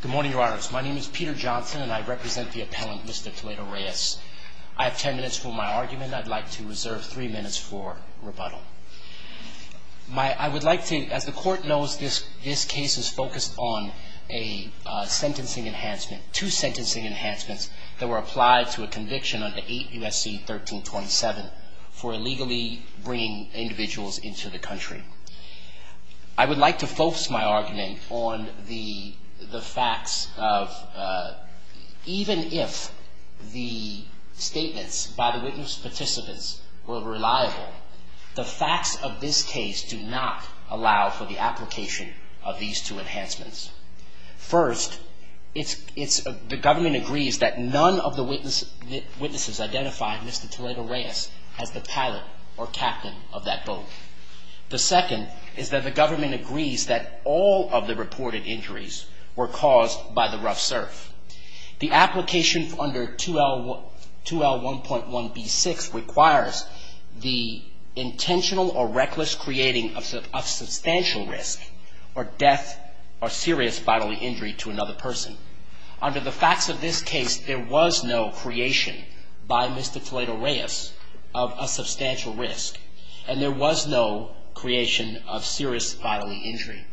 Good morning, Your Honors. My name is Peter Johnson, and I represent the appellant, Mr. Toledo-Reyes. I have ten minutes for my argument. I'd like to reserve three minutes for rebuttal. I would like to, as the Court knows, this case is focused on a sentencing enhancement, two sentencing enhancements that were applied to a conviction under 8 U.S.C. 1327 for illegally bringing individuals into the country. I would like to focus my argument on the facts of even if the statements by the witness participants were reliable, the facts of this case do not allow for the application of these two enhancements. First, the government agrees that none of the witnesses identified Mr. Toledo-Reyes as the pilot or captain of that boat. The second is that the government agrees that all of the reported injuries were caused by the rough surf. The application under 2L1.1b6 requires the intentional or reckless creating of substantial risk or death or serious bodily injury to another person. Under the facts of this case, there was no creation by Mr. Toledo-Reyes of a substantial risk, and there was no creation of serious bodily injury.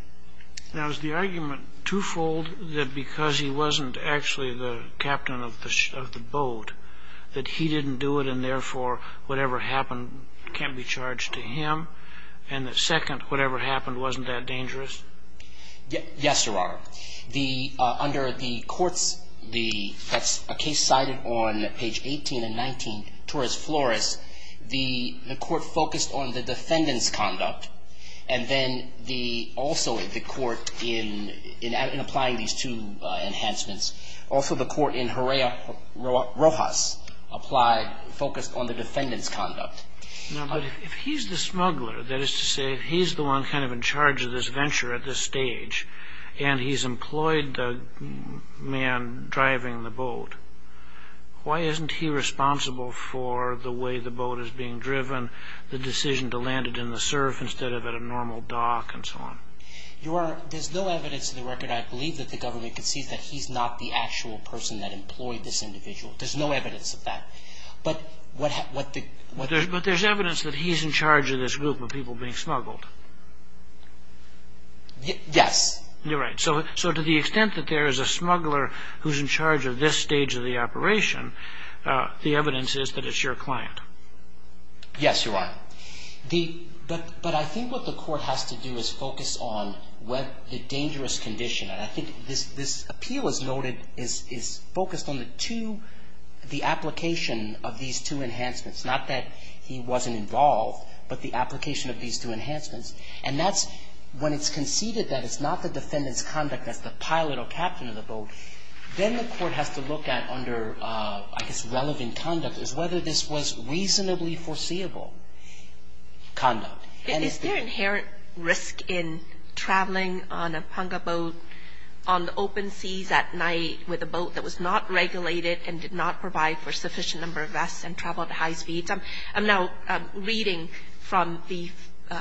Now, is the argument twofold that because he wasn't actually the captain of the boat, that he didn't do it and therefore whatever happened can't be charged to him, and that second, whatever happened wasn't that dangerous? Yes, Your Honor. Under the courts, that's a case cited on page 18 and 19, torus floris, the court focused on the defendant's conduct and then also the court in applying these two enhancements, also the court in Horea Rojas focused on the defendant's conduct. Now, but if he's the smuggler, that is to say if he's the one kind of in charge of this venture at this stage, and he's employed the man driving the boat, why isn't he responsible for the way the boat is being driven, the decision to land it in the surf instead of at a normal dock and so on? Your Honor, there's no evidence to the record I believe that the government can see that he's not the actual person that employed this individual. There's no evidence of that. But there's evidence that he's in charge of this group of people being smuggled. Yes. You're right. So to the extent that there is a smuggler who's in charge of this stage of the operation, the evidence is that it's your client. Yes, Your Honor. But I think what the court has to do is focus on the dangerous condition, and I think this appeal as noted is focused on the two, the application of these two enhancements, not that he wasn't involved, but the application of these two enhancements. And that's when it's conceded that it's not the defendant's conduct that's the pilot or captain of the boat, then the court has to look at under, I guess, relevant conduct, is whether this was reasonably foreseeable conduct. Is there inherent risk in traveling on a Punga boat on the open seas at night with a boat that was not regulated and did not provide for sufficient number of vests and travel at high speeds? I'm now reading from the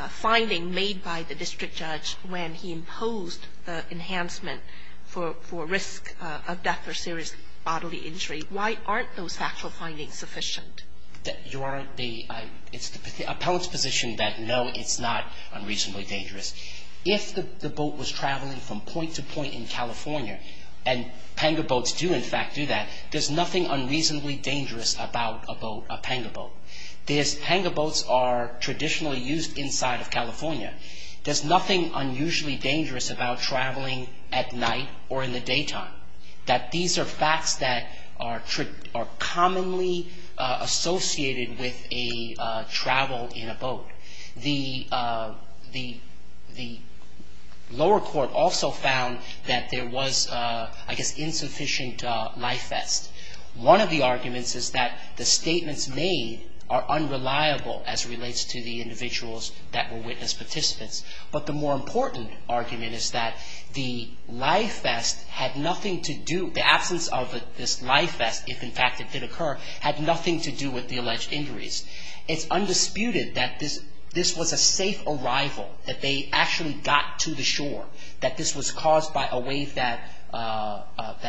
finding made by the district judge when he imposed the enhancement for risk of death or serious bodily injury. Why aren't those factual findings sufficient? Your Honor, it's the appellant's position that no, it's not unreasonably dangerous. If the boat was traveling from point to point in California, and Punga boats do, in fact, do that, there's nothing unreasonably dangerous about a boat, a Punga boat. Punga boats are traditionally used inside of California. There's nothing unusually dangerous about traveling at night or in the daytime, that these are facts that are commonly associated with a travel in a boat. The lower court also found that there was, I guess, insufficient life vest. One of the arguments is that the statements made are unreliable as it relates to the individuals that were witness participants, but the more important argument is that the life vest had nothing to do, the absence of this life vest, if in fact it did occur, had nothing to do with the alleged injuries. It's undisputed that this was a safe arrival, that they actually got to the shore, that this was caused by a wave that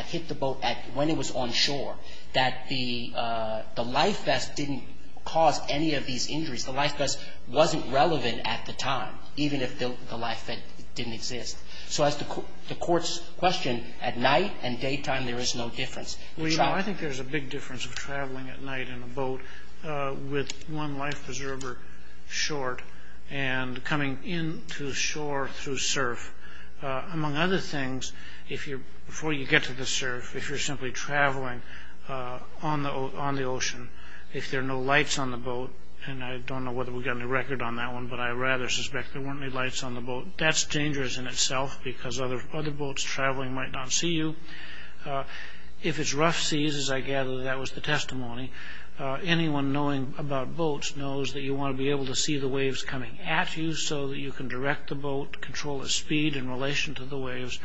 hit the boat when it was on shore, that the life vest didn't cause any of these injuries. The life vest wasn't relevant at the time, even if the life vest didn't exist. So as the court's question, at night and daytime there is no difference. Well, you know, I think there's a big difference of traveling at night in a boat with one life preserver short and coming into shore through surf. Among other things, before you get to the surf, if you're simply traveling on the ocean, if there are no lights on the boat, and I don't know whether we've got any record on that one, but I rather suspect there weren't any lights on the boat, that's dangerous in itself because other boats traveling might not see you. If it's rough seas, as I gather that was the testimony, anyone knowing about boats knows that you want to be able to see the waves coming at you so that you can direct the boat, control the speed in relation to the waves.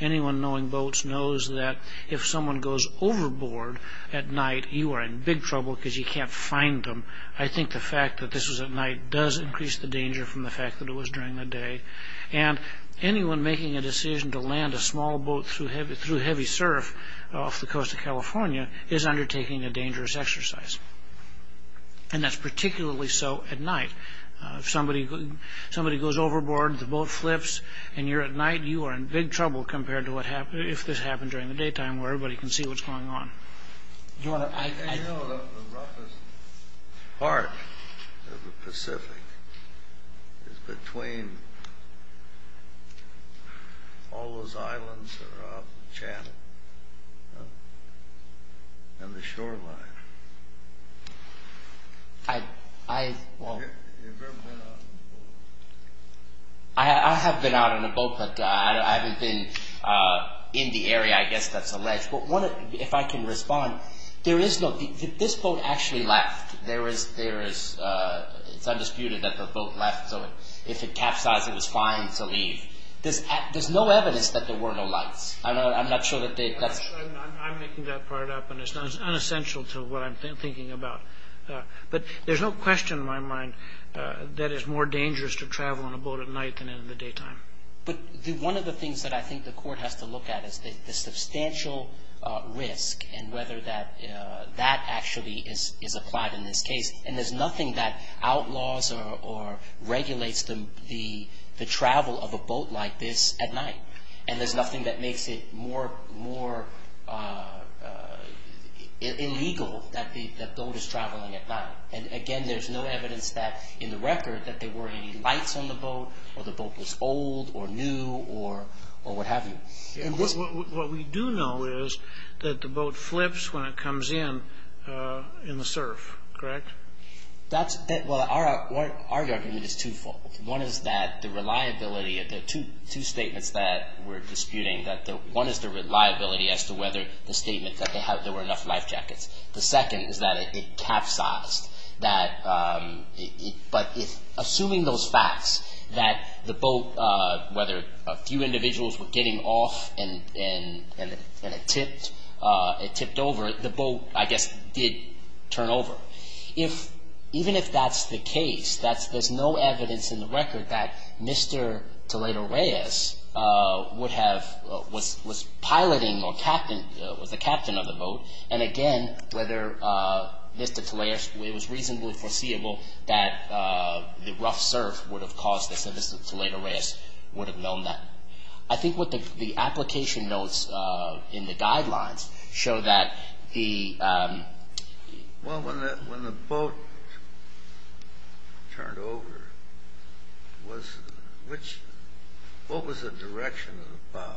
Anyone knowing boats knows that if someone goes overboard at night, you are in big trouble because you can't find them. I think the fact that this was at night does increase the danger from the fact that it was during the day, and anyone making a decision to land a small boat through heavy surf off the coast of California is undertaking a dangerous exercise, and that's particularly so at night. If somebody goes overboard, the boat flips, and you're at night, you are in big trouble compared to if this happened during the daytime where everybody can see what's going on. You know the roughest part of the Pacific is between all those islands that are off the channel and the shoreline. Have you ever been out on a boat? I have been out on a boat, but I haven't been in the area I guess that's alleged. If I can respond, this boat actually left. It's undisputed that the boat left, so if it capsized, it was fine to leave. There's no evidence that there were no lights. I'm not sure that they... I'm making that part up, and it's unessential to what I'm thinking about. But there's no question in my mind that it's more dangerous to travel on a boat at night than in the daytime. But one of the things that I think the court has to look at is the substantial risk and whether that actually is applied in this case. And there's nothing that outlaws or regulates the travel of a boat like this at night, and there's nothing that makes it more illegal that the boat is traveling at night. And again, there's no evidence in the record that there were any lights on the boat or the boat was old or new or what have you. What we do know is that the boat flips when it comes in in the surf, correct? Well, our argument is twofold. One is that the reliability of the two statements that we're disputing, one is the reliability as to whether the statement that there were enough life jackets. The second is that it capsized. But assuming those facts, that the boat, whether a few individuals were getting off and it tipped over, the boat, I guess, did turn over. Even if that's the case, there's no evidence in the record that Mr. Toledo Reyes was piloting or was the captain of the boat. And again, whether Mr. Toledo Reyes, it was reasonably foreseeable that the rough surf would have caused this and Mr. Toledo Reyes would have known that. I think what the application notes in the guidelines show that the... Well, when the boat turned over, what was the direction of the bow?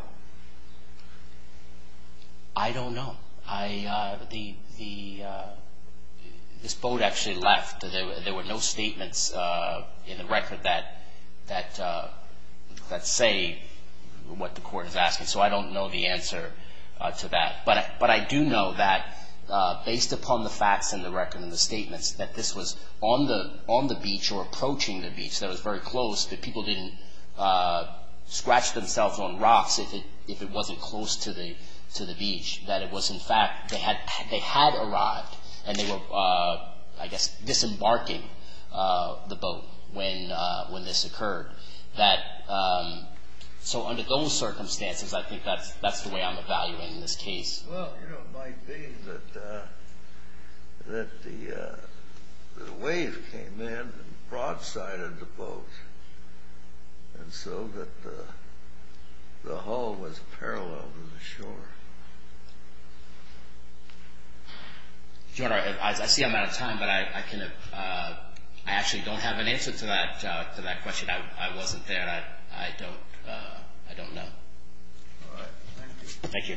I don't know. This boat actually left. There were no statements in the record that say what the court is asking. So I don't know the answer to that. But I do know that based upon the facts in the record and the statements, that this was on the beach or approaching the beach, that it was very close, that people didn't scratch themselves on rocks if it wasn't close to the beach, that it was, in fact, they had arrived and they were, I guess, disembarking the boat when this occurred. So under those circumstances, I think that's the way I'm evaluating this case. Well, you know, it might be that the wave came in and broadsided the boat and so that the hull was parallel to the shore. Your Honor, I see I'm out of time, but I actually don't have an answer to that question. I wasn't there. I don't know. All right. Thank you.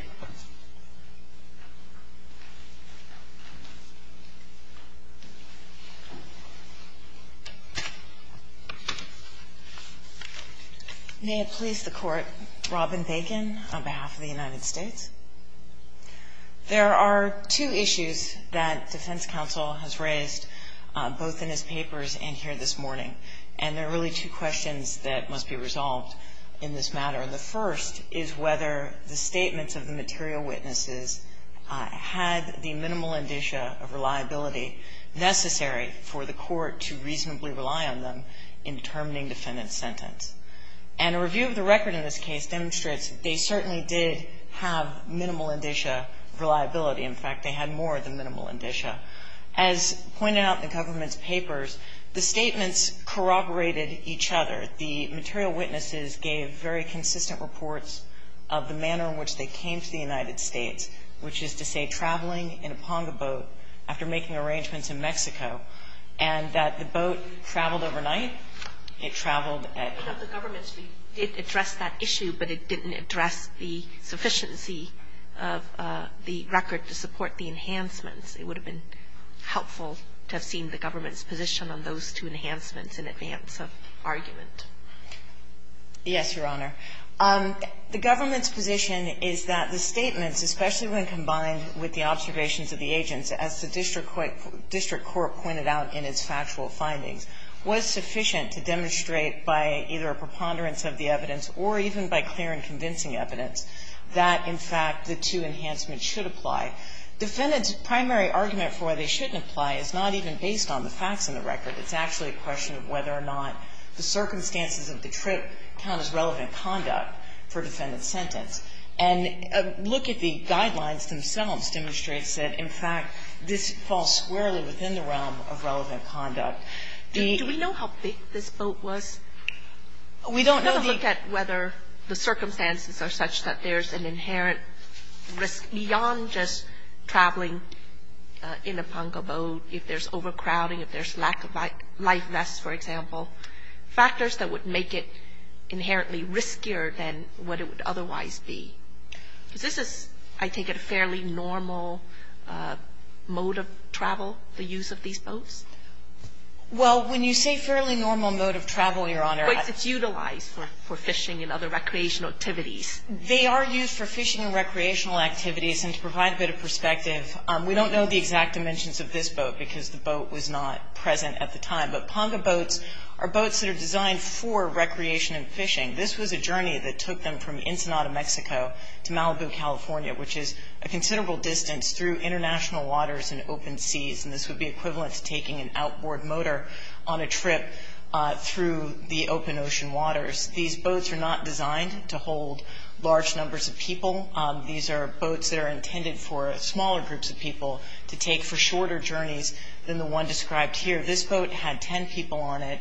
May it please the Court. Robin Bacon on behalf of the United States. There are two issues that defense counsel has raised both in his papers and here this morning, and there are really two questions that must be resolved in this matter. And the first is whether the statements of the material witnesses had the minimal indicia of reliability necessary for the court to reasonably rely on them in determining defendant's sentence. And a review of the record in this case demonstrates they certainly did have minimal indicia of reliability. In fact, they had more than minimal indicia. As pointed out in the government's papers, the statements corroborated each other. The material witnesses gave very consistent reports of the manner in which they came to the United States, which is to say traveling in a Ponga boat after making arrangements in Mexico, and that the boat traveled overnight. It traveled at night. The government did address that issue, but it didn't address the sufficiency of the record to support the enhancements. It would have been helpful to have seen the government's position on those two enhancements in advance of argument. Yes, Your Honor. The government's position is that the statements, especially when combined with the observations of the agents, as the district court pointed out in its factual findings, was sufficient to demonstrate by either a preponderance of the evidence or even by clear and convincing evidence that, in fact, the two enhancements should apply. Defendant's primary argument for why they shouldn't apply is not even based on the facts in the record. It's actually a question of whether or not the circumstances of the trip count as relevant conduct for defendant's sentence. And a look at the guidelines themselves demonstrates that, in fact, this falls squarely within the realm of relevant conduct. The ---- Do we know how big this boat was? We don't know the ---- Let's look at whether the circumstances are such that there's an inherent risk beyond just traveling in a Ponca boat, if there's overcrowding, if there's lack of life vests, for example, factors that would make it inherently riskier than what it would otherwise be. Because this is, I take it, a fairly normal mode of travel, the use of these boats? Well, when you say fairly normal mode of travel, Your Honor ---- But it's utilized for fishing and other recreational activities. They are used for fishing and recreational activities. And to provide a bit of perspective, we don't know the exact dimensions of this boat because the boat was not present at the time. But Ponca boats are boats that are designed for recreation and fishing. This was a journey that took them from Ensenada, Mexico, to Malibu, California, which is a considerable distance through international waters and open seas. And this would be equivalent to taking an outboard motor on a trip through the open ocean waters. These boats are not designed to hold large numbers of people. These are boats that are intended for smaller groups of people to take for shorter journeys than the one described here. This boat had 10 people on it.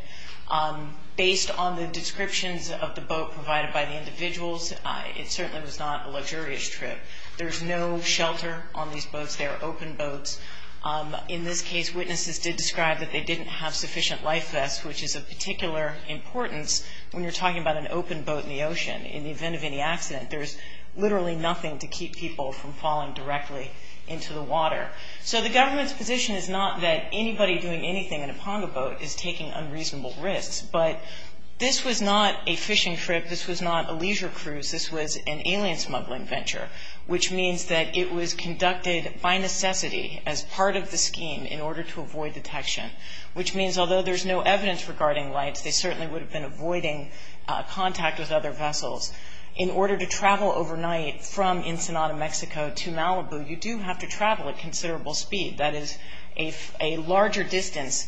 Based on the descriptions of the boat provided by the individuals, it certainly was not a luxurious trip. There's no shelter on these boats. They are open boats. In this case, witnesses did describe that they didn't have sufficient life vests, which is of particular importance. When you're talking about an open boat in the ocean, in the event of any accident, there's literally nothing to keep people from falling directly into the water. So the government's position is not that anybody doing anything in a Ponca boat is taking unreasonable risks. But this was not a fishing trip. This was not a leisure cruise. This was an alien smuggling venture, which means that it was conducted by necessity as part of the scheme in order to avoid detection, which means although there's no avoiding contact with other vessels, in order to travel overnight from Ensenada, Mexico to Malibu, you do have to travel at considerable speed. That is a larger distance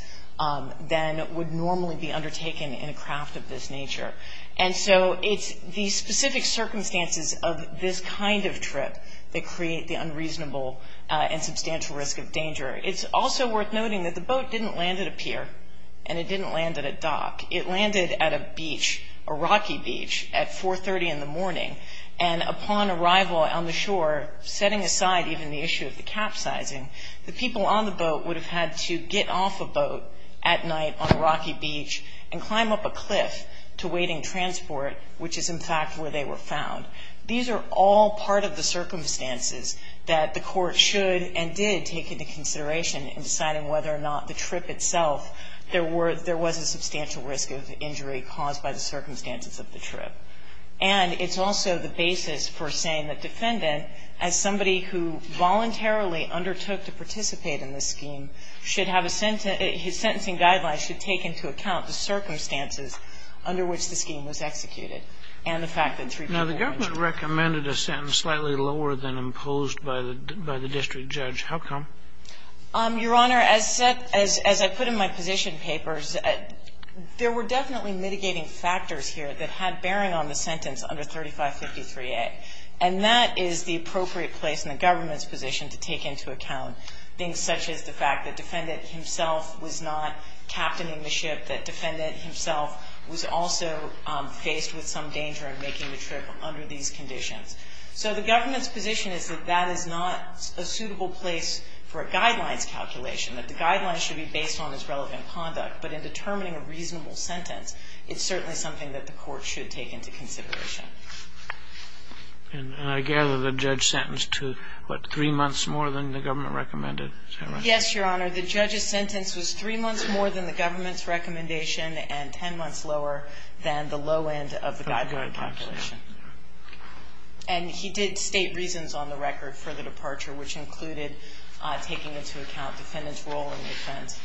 than would normally be undertaken in a craft of this nature. And so it's the specific circumstances of this kind of trip that create the unreasonable and substantial risk of danger. It's also worth noting that the boat didn't land at a pier and it didn't land at a dock. It landed at a beach, a rocky beach, at 4.30 in the morning. And upon arrival on the shore, setting aside even the issue of the capsizing, the people on the boat would have had to get off a boat at night on a rocky beach and climb up a cliff to waiting transport, which is in fact where they were found. These are all part of the circumstances that the Court should and did take into consideration in deciding whether or not the trip itself, there was a substantial risk of injury caused by the circumstances of the trip. And it's also the basis for saying that defendant, as somebody who voluntarily undertook to participate in this scheme, should have a sentence to his sentencing guidelines should take into account the circumstances under which the scheme was executed and the fact that three people were injured. Kennedy. Now, the government recommended a sentence slightly lower than imposed by the district judge. How come? Your Honor, as set as I put in my position papers, there were definitely mitigating factors here that had bearing on the sentence under 3553A. And that is the appropriate place in the government's position to take into account things such as the fact that defendant himself was not captaining the ship, that defendant himself was also faced with some danger in making the trip under these conditions. So the government's position is that that is not a suitable place for a guidelines calculation, that the guidelines should be based on his relevant conduct. But in determining a reasonable sentence, it's certainly something that the Court should take into consideration. And I gather the judge sentenced to, what, three months more than the government recommended, is that right? Yes, Your Honor. The judge's sentence was three months more than the government's recommendation and 10 months lower than the low end of the guideline calculation. And he did state reasons on the record for the departure, which included taking into account defendant's role in the offense.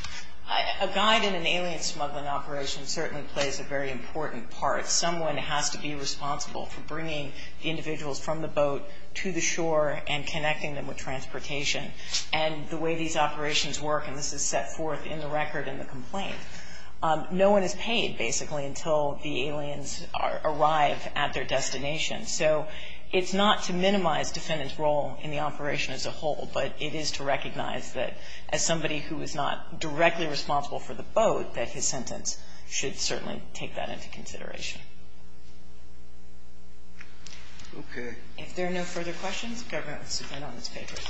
A guide in an alien smuggling operation certainly plays a very important part. Someone has to be responsible for bringing the individuals from the boat to the shore and connecting them with transportation. And the way these operations work, and this is set forth in the record in the complaint, no one is paid, basically, until the aliens arrive at their destination So it's not to minimize defendant's role in the operation as a whole, but it is to recognize that as somebody who is not directly responsible for the boat, that his sentence should certainly take that into consideration. Okay. If there are no further questions, the government will submit on its papers.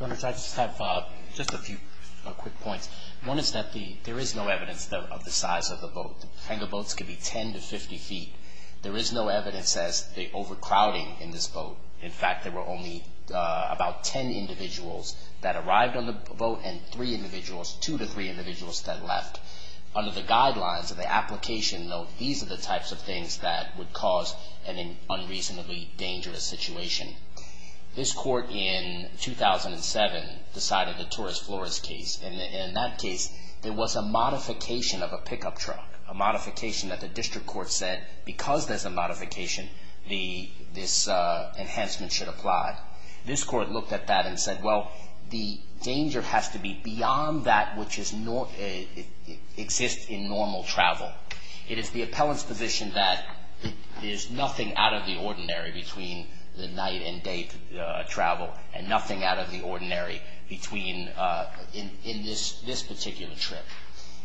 Your Honor, if I could just have just a few quick points. One is that there is no evidence of the size of the boat. Angle boats can be 10 to 50 feet. There is no evidence as to the overcrowding in this boat. In fact, there were only about 10 individuals that arrived on the boat and three individuals, two to three individuals that left. Under the guidelines of the application, though, these are the types of things that would cause an unreasonably dangerous situation. This court in 2007 decided the Torres Flores case, and in that case, there was a modification of a pickup truck, a modification that the district court said because there's a modification, this enhancement should apply. This court looked at that and said, well, the danger has to be beyond that which exists in normal travel. It is the appellant's position that there's nothing out of the ordinary between the night and day travel and nothing out of the ordinary in this particular trip.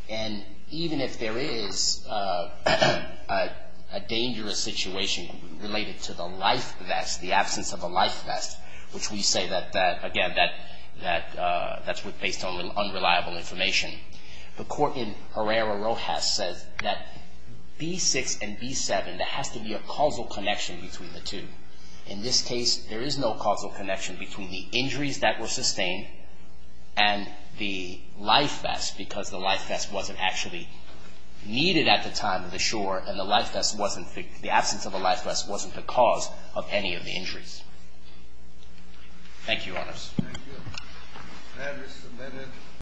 And even if there is a dangerous situation related to the life vest, the absence of a life vest was reliable information. The court in Herrera Rojas said that B6 and B7, there has to be a causal connection between the two. In this case, there is no causal connection between the injuries that were sustained and the life vest because the life vest wasn't actually needed at the time of the shore and the absence of a life vest wasn't the cause of any of the injuries. Thank you, Your Honors. Thank you.